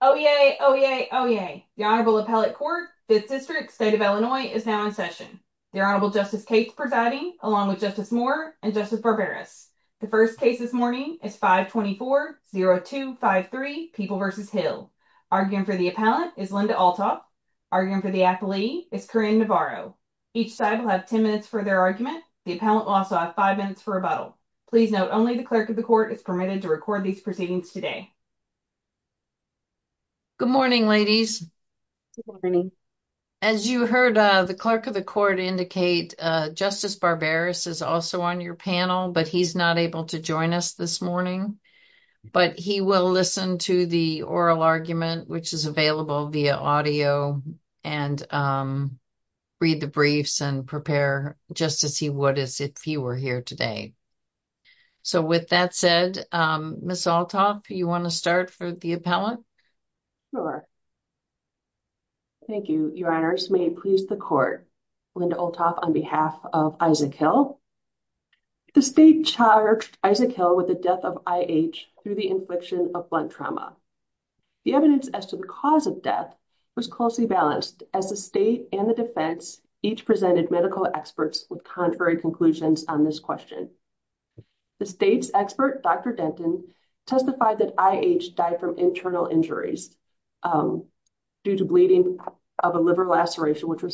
Oh yay! Oh yay! Oh yay! The Honorable Appellate Court, 5th District, State of Illinois, is now in session. The Honorable Justice Cates presiding, along with Justice Moore and Justice Barberas. The first case this morning is 524-0253, People v. Hill. Arguing for the appellant is Linda Althoff. Arguing for the appellee is Corinne Navarro. Each side will have 10 minutes for their argument. The appellant will also have 5 minutes for rebuttal. Please note, only the Clerk of the Court is permitted to record these proceedings today. Good morning, ladies. As you heard, the Clerk of the Court indicate Justice Barberas is also on your panel, but he's not able to join us this morning. But he will listen to the oral argument, which is available via audio, and read the briefs and prepare just as he would if he were here today. So with that said, Ms. Althoff, do you want to start for the appellant? Sure. Thank you, Your Honors. May it please the Court, Linda Althoff on behalf of Isaac Hill. The State charged Isaac Hill with the death of I.H. through the infliction of blunt trauma. The evidence as to the cause of death was closely balanced as the State and the defense each presented medical experts with contrary conclusions on this question. The State's expert, Dr. Denton, testified that I.H. died from internal injuries due to bleeding of a liver laceration, which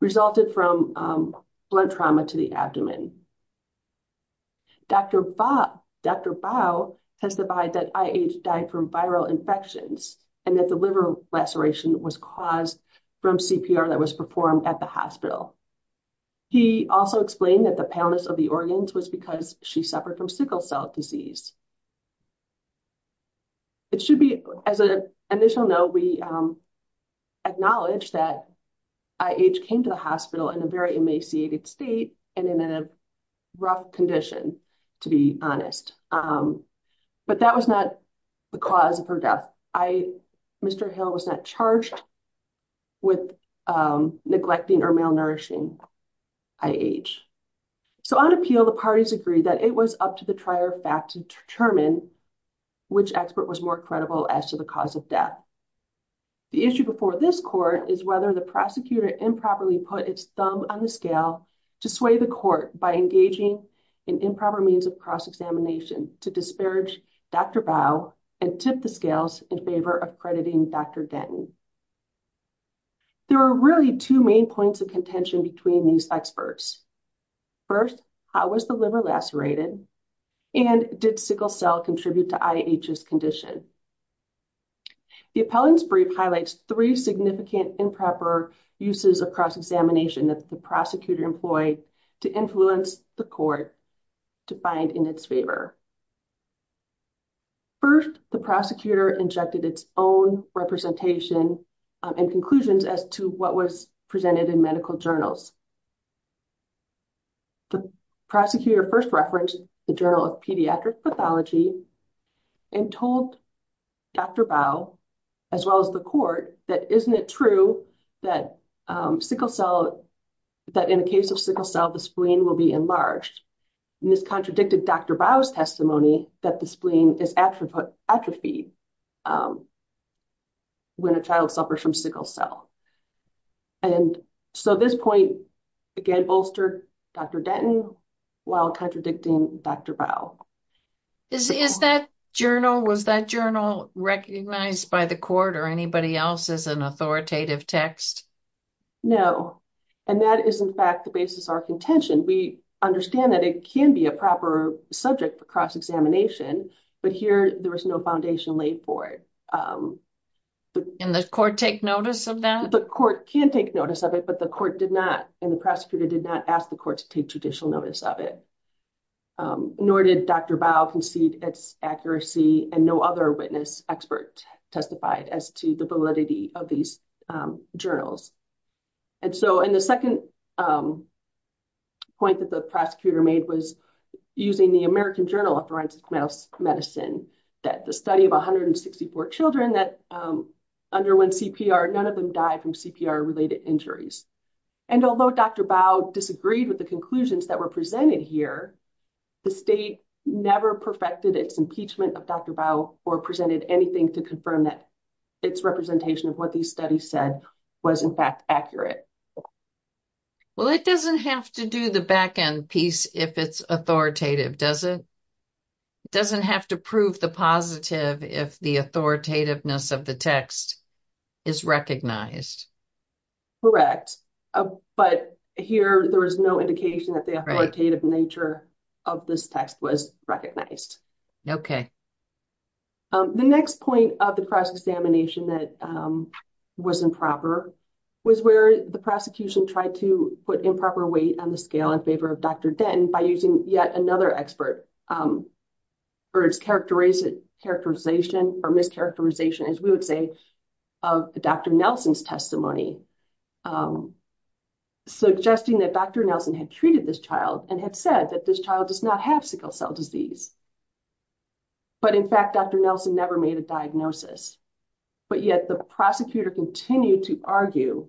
resulted from blunt trauma to the abdomen. Dr. Bao testified that I.H. died from viral infections and that the liver laceration was caused from CPR that was performed at the hospital. He also explained that the paleness of the organs was because she suffered from sickle cell disease. It should be, as an initial note, we acknowledge that I.H. came to the hospital in a very emaciated state and in a rough condition, to be honest. But that was not the cause of her death. Mr. Hill was not charged with neglecting or malnourishing I.H. So on appeal, the parties agreed that it was up to the trier fact to determine which expert was more credible as to the cause of death. The issue before this court is whether the prosecutor improperly put its thumb on the scale to sway the court by engaging in improper means of cross-examination to disparage Dr. Bao and tip the scales in favor of crediting Dr. Denton. There are really two main points of contention between these experts. First, how was the liver lacerated and did sickle cell contribute to I.H.'s condition? The appellant's brief highlights three significant improper uses of cross-examination that the prosecutor employed to influence the court to find in its favor. First, the prosecutor injected its own representation and conclusions as to what was presented in medical journals. The prosecutor first referenced the Journal of Pediatric Pathology and told Dr. Bao, as well as the court, that isn't it true that in a case of sickle cell, the spleen will be enlarged? This contradicted Dr. Bao's testimony that the spleen is atrophied when a child suffers from sickle cell. And so this point, again, bolstered Dr. Denton while contradicting Dr. Bao. Is that journal, was that journal recognized by the court or anybody else as an authoritative text? No, and that is, in fact, the basis of our contention. We understand that it can be a proper subject for cross-examination, but here there is no foundation laid for it. And the court take notice of that? The court can take notice of it, but the court did not and the prosecutor did not ask the court to take judicial notice of it. Nor did Dr. Bao concede its accuracy and no other witness expert testified as to the validity of these journals. And so in the second point that the prosecutor made was using the American Journal of Forensic Medicine, that the study of 164 children that underwent CPR, none of them died from CPR related injuries. And although Dr. Bao disagreed with the conclusions that were presented here, the state never perfected its impeachment of Dr. Bao or presented anything to confirm that its representation of what these studies said was, in fact, accurate. Well, it doesn't have to do the back end piece if it's authoritative, does it? It doesn't have to prove the positive if the authoritativeness of the text is recognized. Correct, but here there is no indication that the authoritative nature of this text was recognized. Okay. The next point of the cross-examination that was improper was where the prosecution tried to put improper weight on the scale in favor of Dr. Denton by using yet another expert or its characterization or mischaracterization, as we would say, of Dr. Nelson's testimony, suggesting that Dr. Nelson had treated this child and had said that this child does not have sickle cell disease. But in fact, Dr. Nelson never made a diagnosis, but yet the prosecutor continued to argue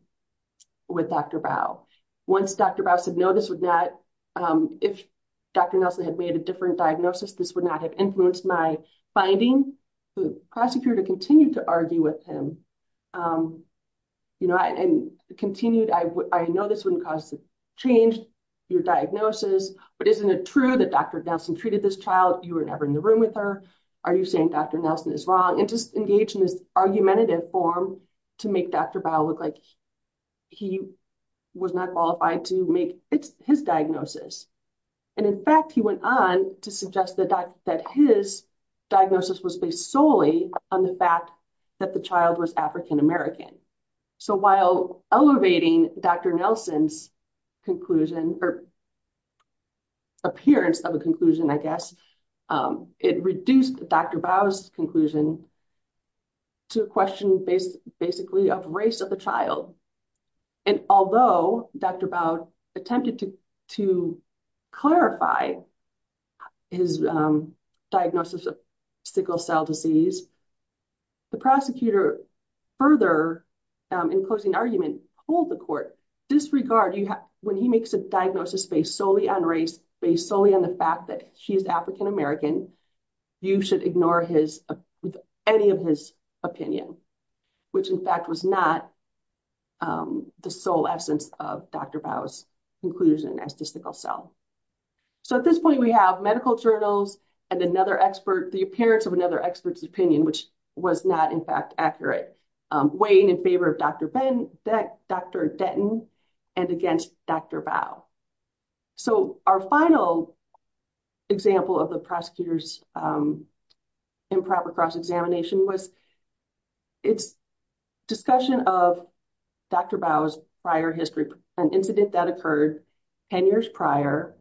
with Dr. Bao. Once Dr. Bao said, no, this would not, if Dr. Nelson had made a different diagnosis, this would not have influenced my finding, the prosecutor continued to argue with him. And continued, I know this wouldn't cause a change in your diagnosis, but isn't it true that Dr. Nelson treated this child? You were never in the room with her. Are you saying Dr. Nelson is wrong? And just engaged in this argumentative form to make Dr. Bao look like he was not qualified to make his diagnosis. And in fact, he went on to suggest that his diagnosis was based solely on the fact that the child was African-American. So while elevating Dr. Nelson's conclusion or appearance of a conclusion, I guess, it reduced Dr. Bao's conclusion to a question based basically of race of the child. And although Dr. Bao attempted to clarify his diagnosis of sickle cell disease, the prosecutor further, in closing argument, told the court, disregard when he makes a diagnosis based solely on race, based solely on the fact that she is African-American. You should ignore his, any of his opinion, which in fact was not the sole essence of Dr. Bao's conclusion as to sickle cell. So at this point, we have medical journals and another expert, the appearance of another expert's opinion, which was not in fact accurate. Weighing in favor of Dr. Ben, Dr. Denton and against Dr. Bao. So our final example of the prosecutor's improper cross-examination was its discussion of Dr. Bao's prior history, an incident that occurred 10 years prior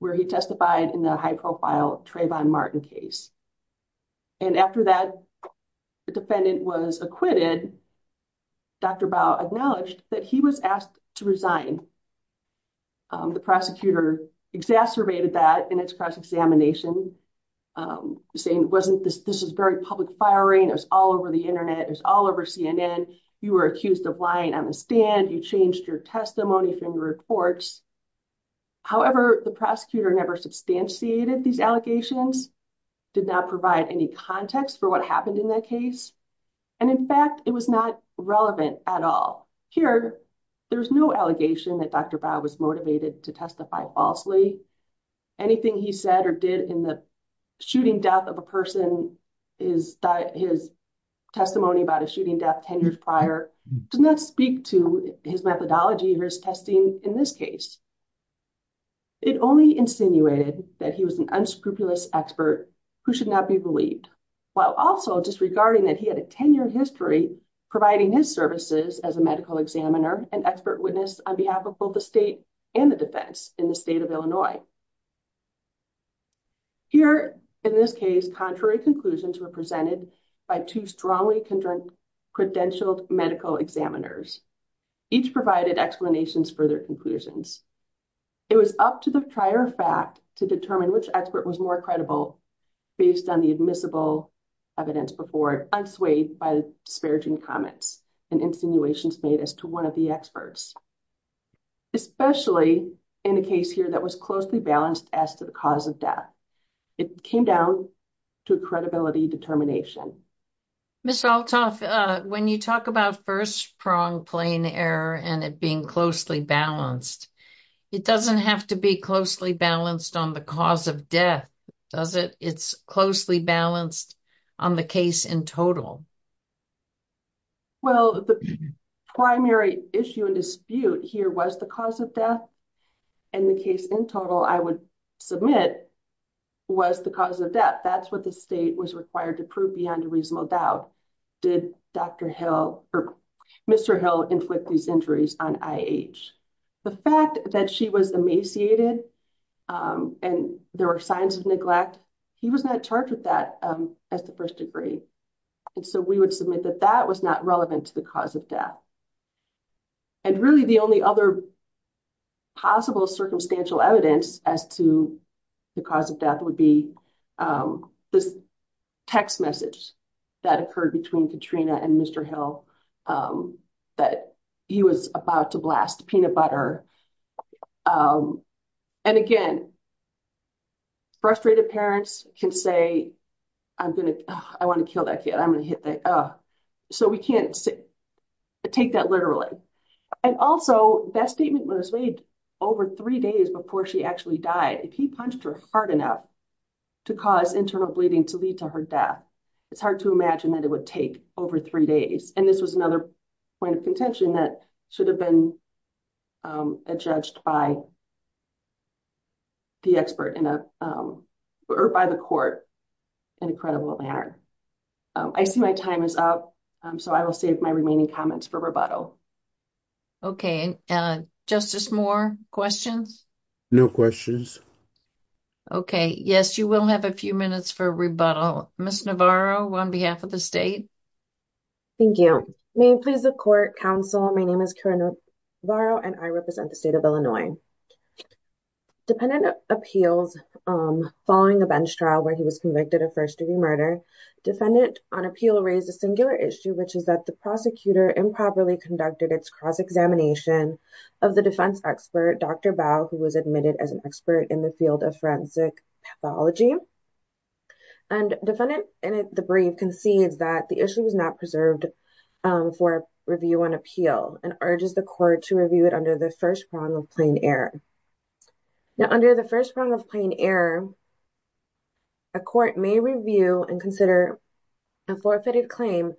where he testified in the high profile Trayvon Martin case. And after that, the defendant was acquitted. Dr. Bao acknowledged that he was asked to resign. The prosecutor exacerbated that in its cross-examination, saying, wasn't this, this is very public firing. It was all over the Internet. It was all over CNN. You were accused of lying on the stand. You changed your testimony from your reports. However, the prosecutor never substantiated these allegations, did not provide any context for what happened in that case. And in fact, it was not relevant at all. Here, there's no allegation that Dr. Bao was motivated to testify falsely. Anything he said or did in the shooting death of a person, his testimony about a shooting death 10 years prior, does not speak to his methodology or his testing in this case. It only insinuated that he was an unscrupulous expert who should not be believed. While also disregarding that he had a 10-year history providing his services as a medical examiner and expert witness on behalf of both the state and the defense in the state of Illinois. Here, in this case, contrary conclusions were presented by two strongly credentialed medical examiners. Each provided explanations for their conclusions. It was up to the prior fact to determine which expert was more credible based on the admissible evidence before it, unswayed by disparaging comments and insinuations made as to one of the experts. Especially in a case here that was closely balanced as to the cause of death. It came down to credibility determination. Ms. Althoff, when you talk about first prong plane error and it being closely balanced, it doesn't have to be closely balanced on the cause of death, does it? It's closely balanced on the case in total. Well, the primary issue and dispute here was the cause of death. And the case in total, I would submit, was the cause of death. That's what the state was required to prove beyond a reasonable doubt. Did Dr. Hill, or Mr. Hill, inflict these injuries on I.H.? The fact that she was emaciated and there were signs of neglect, he was not charged with that as the first degree. And so we would submit that that was not relevant to the cause of death. And really the only other possible circumstantial evidence as to the cause of death would be this text message that occurred between Katrina and Mr. Hill that he was about to blast peanut butter. And again, frustrated parents can say, I want to kill that kid. I'm going to hit that. So we can't take that literally. And also that statement was made over three days before she actually died. He punched her hard enough to cause internal bleeding to lead to her death. It's hard to imagine that it would take over three days. And this was another point of contention that should have been judged by the expert or by the court in a credible manner. I see my time is up, so I will save my remaining comments for rebuttal. Okay. Justice Moore, questions? No questions. Okay. Yes, you will have a few minutes for rebuttal. Ms. Navarro, on behalf of the state. Thank you. May it please the court, counsel, my name is Karen Navarro and I represent the state of Illinois. Defendant appeals following a bench trial where he was convicted of first degree murder. Defendant on appeal raised a singular issue, which is that the prosecutor improperly conducted its cross-examination of the defense expert, Dr. Bao, who was admitted as an expert in the field of forensic pathology. And defendant in the brief concedes that the issue was not preserved for review on appeal and urges the court to review it under the first prong of plain error. Now, under the first prong of plain error, a court may review and consider a forfeited claim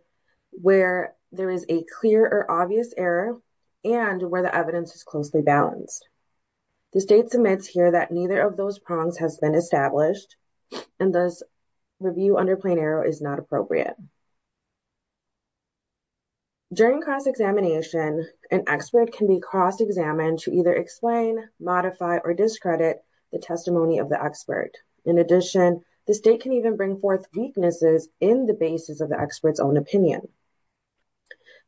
where there is a clear or obvious error and where the evidence is closely balanced. The state submits here that neither of those prongs has been established and thus review under plain error is not appropriate. During cross-examination, an expert can be cross-examined to either explain, modify, or discredit the testimony of the expert. In addition, the state can even bring forth weaknesses in the basis of the expert's own opinion.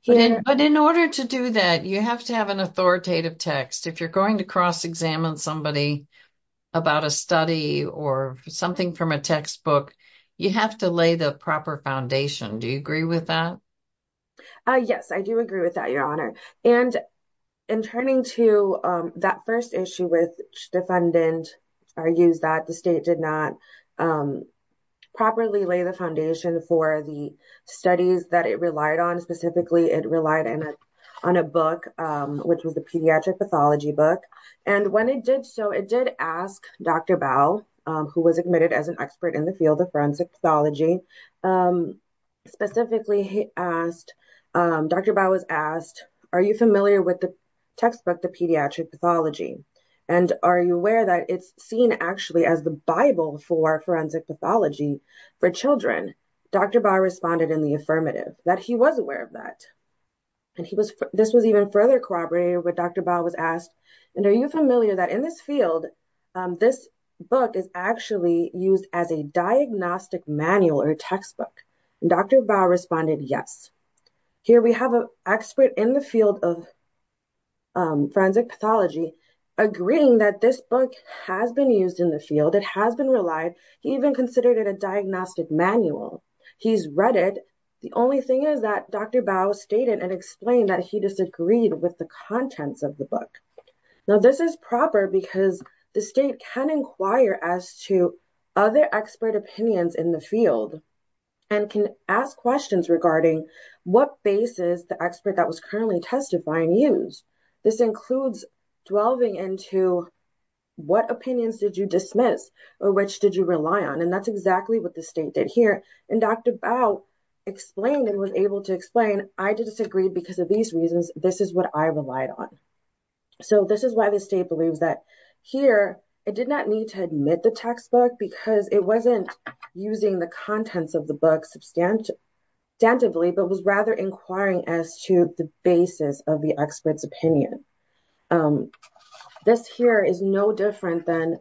But in order to do that, you have to have an authoritative text. If you're going to cross-examine somebody about a study or something from a textbook, you have to lay the proper foundation. Do you agree with that? Yes, I do agree with that, Your Honor. And in turning to that first issue with which defendant argues that the state did not properly lay the foundation for the studies that it relied on, specifically it relied on a book, which was the pediatric pathology book. And when it did so, it did ask Dr. Bao, who was admitted as an expert in the field of forensic pathology, specifically asked, Dr. Bao was asked, are you familiar with the textbook, the pediatric pathology, and are you aware that it's seen actually as the Bible for forensic pathology for children? Dr. Bao responded in the affirmative, that he was aware of that. And this was even further corroborated when Dr. Bao was asked, and are you familiar that in this field, this book is actually used as a diagnostic manual or textbook? Dr. Bao responded, yes. Here we have an expert in the field of forensic pathology agreeing that this book has been used in the field. It has been relied. He even considered it a diagnostic manual. He's read it. The only thing is that Dr. Bao stated and explained that he disagreed with the contents of the book. Now, this is proper because the state can inquire as to other expert opinions in the field and can ask questions regarding what basis the expert that was currently tested by and used. This includes delving into what opinions did you dismiss or which did you rely on? And that's exactly what the state did here. And Dr. Bao explained and was able to explain, I disagreed because of these reasons. This is what I relied on. So this is why the state believes that here, it did not need to admit the textbook because it wasn't using the contents of the book substantively, but was rather inquiring as to the basis of the expert's opinion. This here is no different than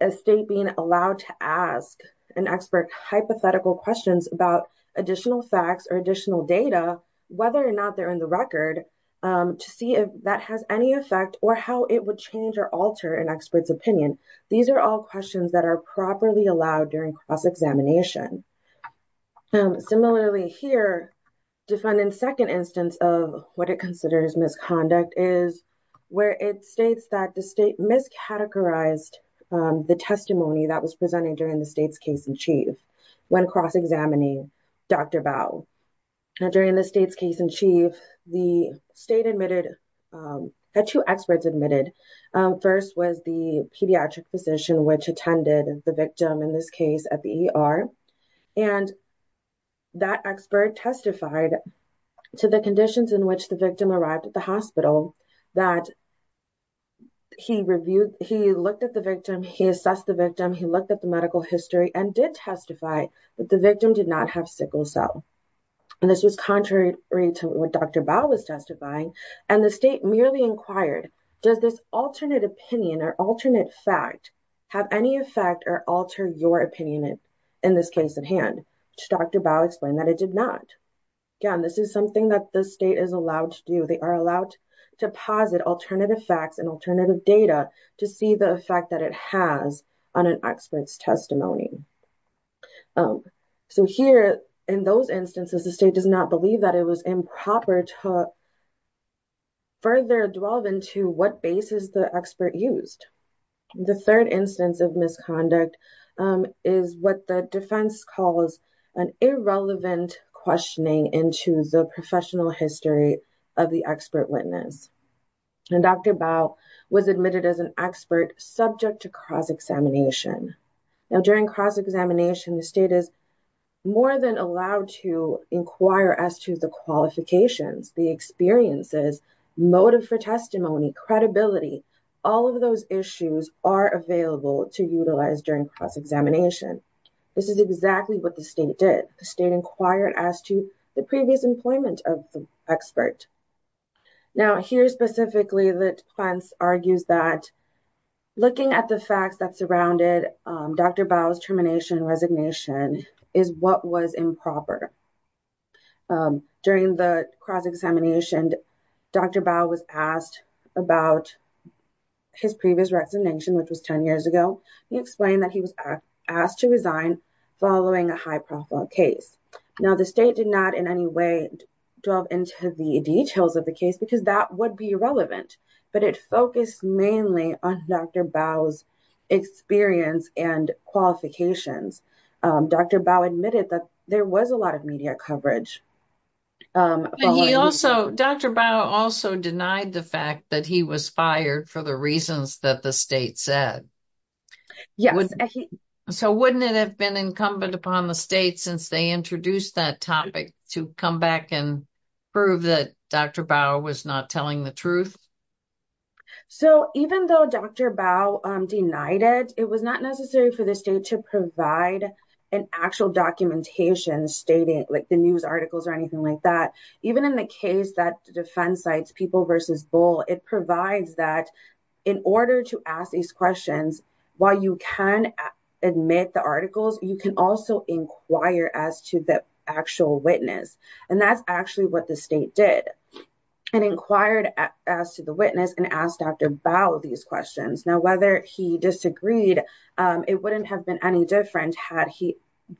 a state being allowed to ask an expert hypothetical questions about additional facts or additional data, whether or not they're in the record, to see if that has any effect or how it would change or alter an expert's opinion. These are all questions that are properly allowed during cross-examination. Similarly here, defendant's second instance of what it considers misconduct is where it states that the state miscategorized the testimony that was presented during the state's case in chief when cross-examining Dr. Bao. Now during the state's case in chief, the state admitted, had two experts admitted. First was the pediatric physician, which attended the victim in this case at the ER. And that expert testified to the conditions in which the victim arrived at the hospital that he reviewed, he looked at the victim, he assessed the victim, he looked at the medical history and did testify that the victim did not have sickle cell. And this was contrary to what Dr. Bao was testifying. And the state merely inquired, does this alternate opinion or alternate fact have any effect or alter your opinion in this case at hand? Dr. Bao explained that it did not. Again, this is something that the state is allowed to do. They are allowed to posit alternative facts and alternative data to see the effect that it has on an expert's testimony. So here in those instances, the state does not believe that it was improper to further delve into what basis the expert used. The third instance of misconduct is what the defense calls an irrelevant questioning into the professional history of the expert witness. And Dr. Bao was admitted as an expert subject to cross-examination. Now, during cross-examination, the state is more than allowed to inquire as to the qualifications, the experiences, motive for testimony, credibility, all of those issues are available to utilize during cross-examination. This is exactly what the state did. The state inquired as to the previous employment of the expert. Now, here specifically, the defense argues that looking at the facts that surrounded Dr. Bao's termination and resignation is what was improper. During the cross-examination, Dr. Bao was asked about his previous resignation, which was 10 years ago. He explained that he was asked to resign following a high-profile case. Now, the state did not in any way delve into the details of the case because that would be irrelevant, but it focused mainly on Dr. Bao's experience and qualifications. Dr. Bao admitted that there was a lot of media coverage. Dr. Bao also denied the fact that he was fired for the reasons that the state said. So, wouldn't it have been incumbent upon the state, since they introduced that topic, to come back and prove that Dr. Bao was not telling the truth? So, even though Dr. Bao denied it, it was not necessary for the state to provide an actual documentation stating the news articles or anything like that. Even in the case that defense cites People v. Bull, it provides that in order to ask these questions, while you can admit the articles, you can also inquire as to the actual witness. And that's actually what the state did. It inquired as to the witness and asked Dr. Bao these questions. Now, whether he disagreed, it wouldn't have been any different had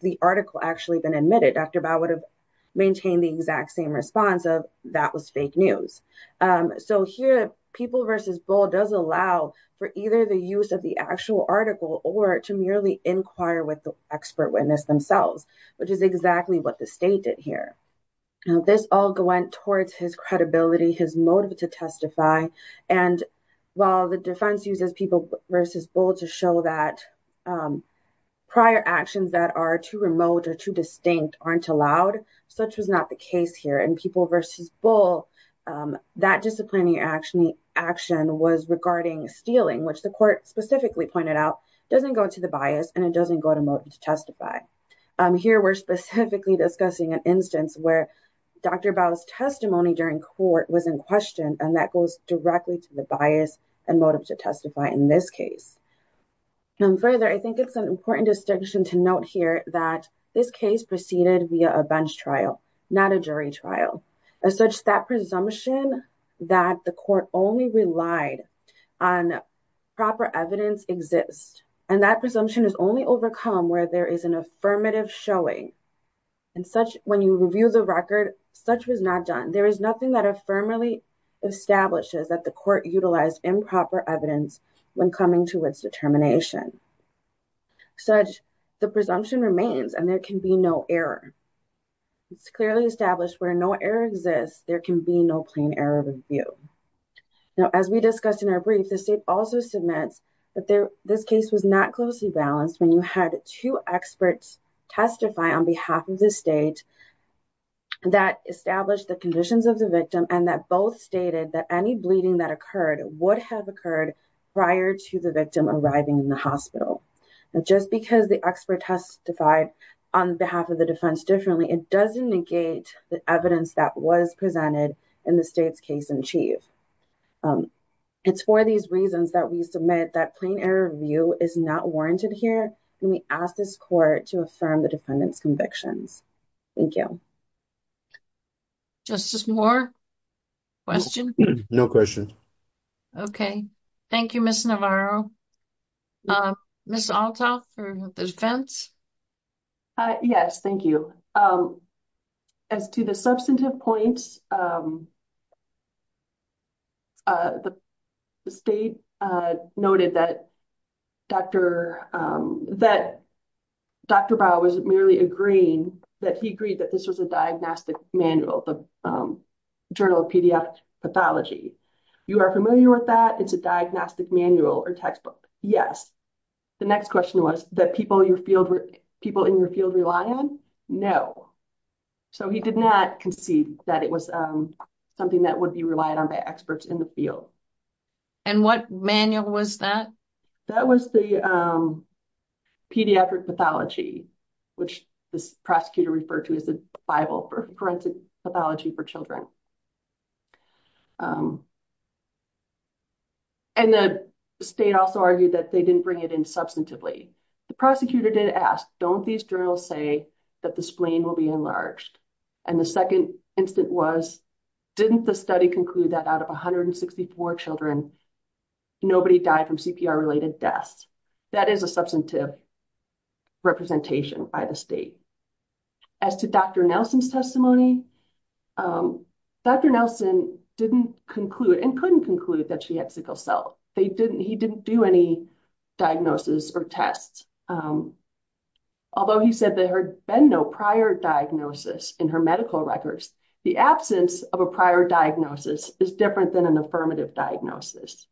the article actually been admitted. Dr. Bao would have maintained the exact same response of, that was fake news. So here, People v. Bull does allow for either the use of the actual article or to merely inquire with the expert witness themselves, which is exactly what the state did here. This all went towards his credibility, his motive to testify. And while the defense uses People v. Bull to show that prior actions that are too remote or too distinct aren't allowed, such was not the case here. In People v. Bull, that disciplining action was regarding stealing, which the court specifically pointed out doesn't go to the bias and it doesn't go to motive to testify. Here, we're specifically discussing an instance where Dr. Bao's testimony during court was in question, and that goes directly to the bias and motive to testify in this case. And further, I think it's an important distinction to note here that this case proceeded via a bench trial, not a jury trial. As such, that presumption that the court only relied on proper evidence exists, and that presumption is only overcome where there is an affirmative showing. And such, when you review the record, such was not done. There is nothing that affirmatively establishes that the court utilized improper evidence when coming to its determination. Such, the presumption remains and there can be no error. It's clearly established where no error exists, there can be no plain error of review. Now, as we discussed in our brief, the state also submits that this case was not closely balanced when you had two experts testify on behalf of the state that established the conditions of the victim and that both stated that any bleeding that occurred would have occurred prior to the victim arriving in the hospital. Now, just because the expert testified on behalf of the defense differently, it doesn't negate the evidence that was presented in the state's case in chief. It's for these reasons that we submit that plain error of view is not warranted here, and we ask this court to affirm the defendant's convictions. Thank you. Justice Moore, question? No question. Okay. Thank you, Ms. Navarro. Ms. Althoff for the defense? Yes, thank you. As to the substantive points, the state noted that Dr. Bow was merely agreeing that he agreed that this was a diagnostic manual, the Journal of Pediatric Pathology. You are familiar with that? It's a diagnostic manual or textbook. Yes. The next question was that people in your field rely on? No. So he did not concede that it was something that would be relied on by experts in the field. And what manual was that? That was the Pediatric Pathology, which this prosecutor referred to as the Bible for Forensic Pathology for Children. And the state also argued that they didn't bring it in substantively. The prosecutor did ask, don't these journals say that the spleen will be enlarged? And the second instant was, didn't the study conclude that out of 164 children, nobody died from CPR related deaths? That is a substantive representation by the state. As to Dr. Nelson's testimony, Dr. Nelson didn't conclude and couldn't conclude that she had sickle cell. He didn't do any diagnosis or tests. Although he said there had been no prior diagnosis in her medical records, the absence of a prior diagnosis is different than an affirmative diagnosis.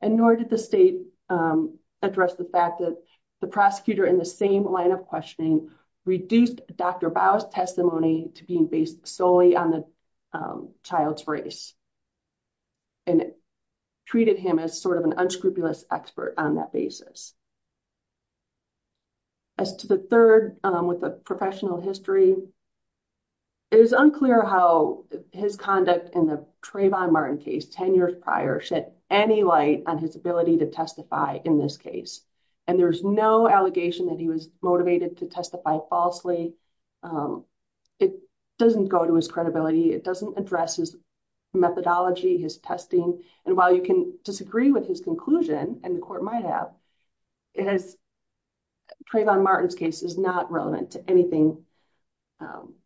And nor did the state address the fact that the prosecutor in the same line of questioning reduced Dr. Bow's testimony to being based solely on the child's race. And treated him as sort of an unscrupulous expert on that basis. As to the third with the professional history, it is unclear how his conduct in the Trayvon Martin case 10 years prior shed any light on his ability to testify in this case. And there's no allegation that he was motivated to testify falsely. It doesn't go to his credibility. It doesn't address his methodology, his testing. And while you can disagree with his conclusion, and the court might have, Trayvon Martin's case is not relevant to anything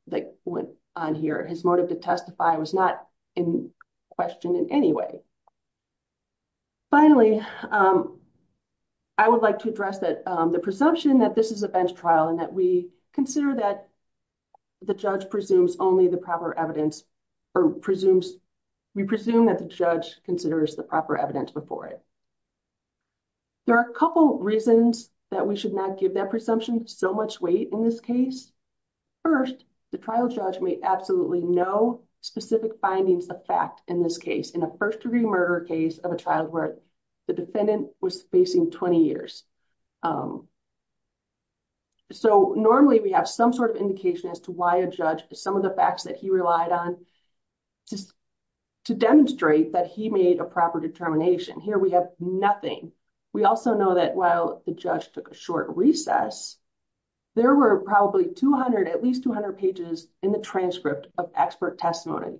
that went on here. His motive to testify was not in question in any way. Finally, I would like to address that the presumption that this is a bench trial and that we consider that the judge presumes only the proper evidence, or presumes, we presume that the judge considers the proper evidence before it. There are a couple reasons that we should not give that presumption so much weight in this case. First, the trial judge made absolutely no specific findings of fact in this case, in a first-degree murder case of a child where the defendant was facing 20 years. So normally we have some sort of indication as to why a judge, some of the facts that he relied on to demonstrate that he made a proper determination. Here we have nothing. We also know that while the judge took a short recess, there were probably 200, at least 200 pages in the transcript of expert testimony,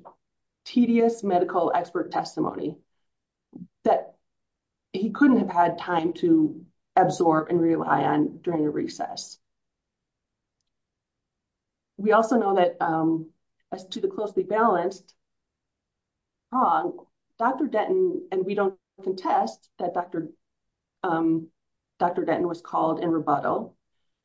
tedious medical expert testimony that he couldn't have had time to absorb and rely on during a recess. We also know that as to the closely balanced trial, Dr. Denton, and we don't contest that Dr. Denton was called in rebuttal,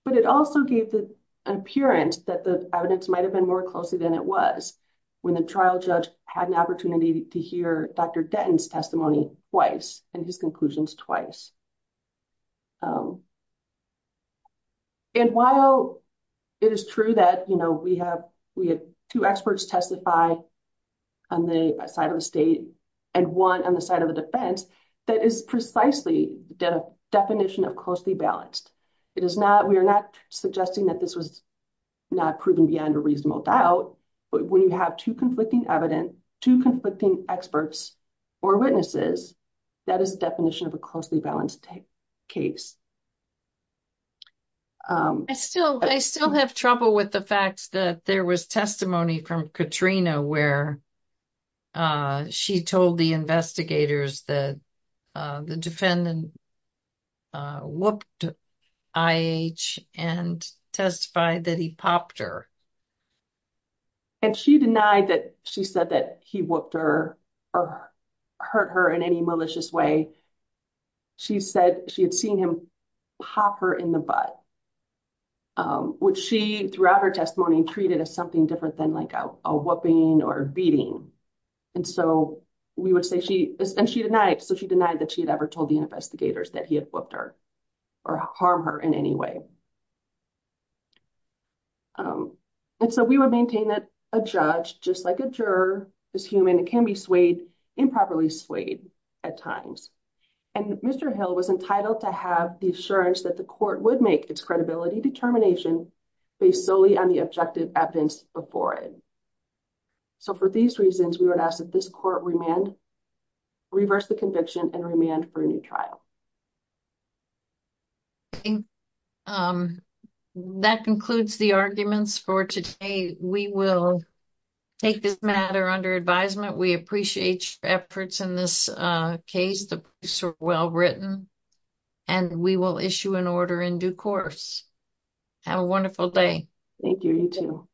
but it also gave the appearance that the evidence might have been more closely than it was when the trial judge had an opportunity to hear Dr. Denton's testimony twice and his conclusions twice. And while it is true that, you know, we have two experts testify on the side of the state and one on the side of the defense, that is precisely the definition of closely balanced. It is not, we are not suggesting that this was not proven beyond a reasonable doubt, but when you have two conflicting evidence, two conflicting experts or witnesses, that is the definition of a closely balanced case. I still have trouble with the fact that there was testimony from Katrina where she told the investigators that the defendant whooped I.H. and testified that he popped her. And she denied that she said that he whooped her or hurt her in any malicious way. She said she had seen him pop her in the butt, which she, throughout her testimony, treated as something different than like a whooping or beating. And so we would say she, and she denied, so she denied that she had ever told the investigators that he had whooped her or harmed her in any way. And so we would maintain that a judge, just like a juror, is human and can be swayed, improperly swayed at times. And Mr. Hill was entitled to have the assurance that the court would make its credibility determination based solely on the objective evidence before it. So for these reasons, we would ask that this court remand, reverse the conviction and remand for a new trial. I think that concludes the arguments for today. We will take this matter under advisement. We appreciate your efforts in this case. The briefs are well written and we will issue an order in due course. Have a wonderful day. Thank you. You too.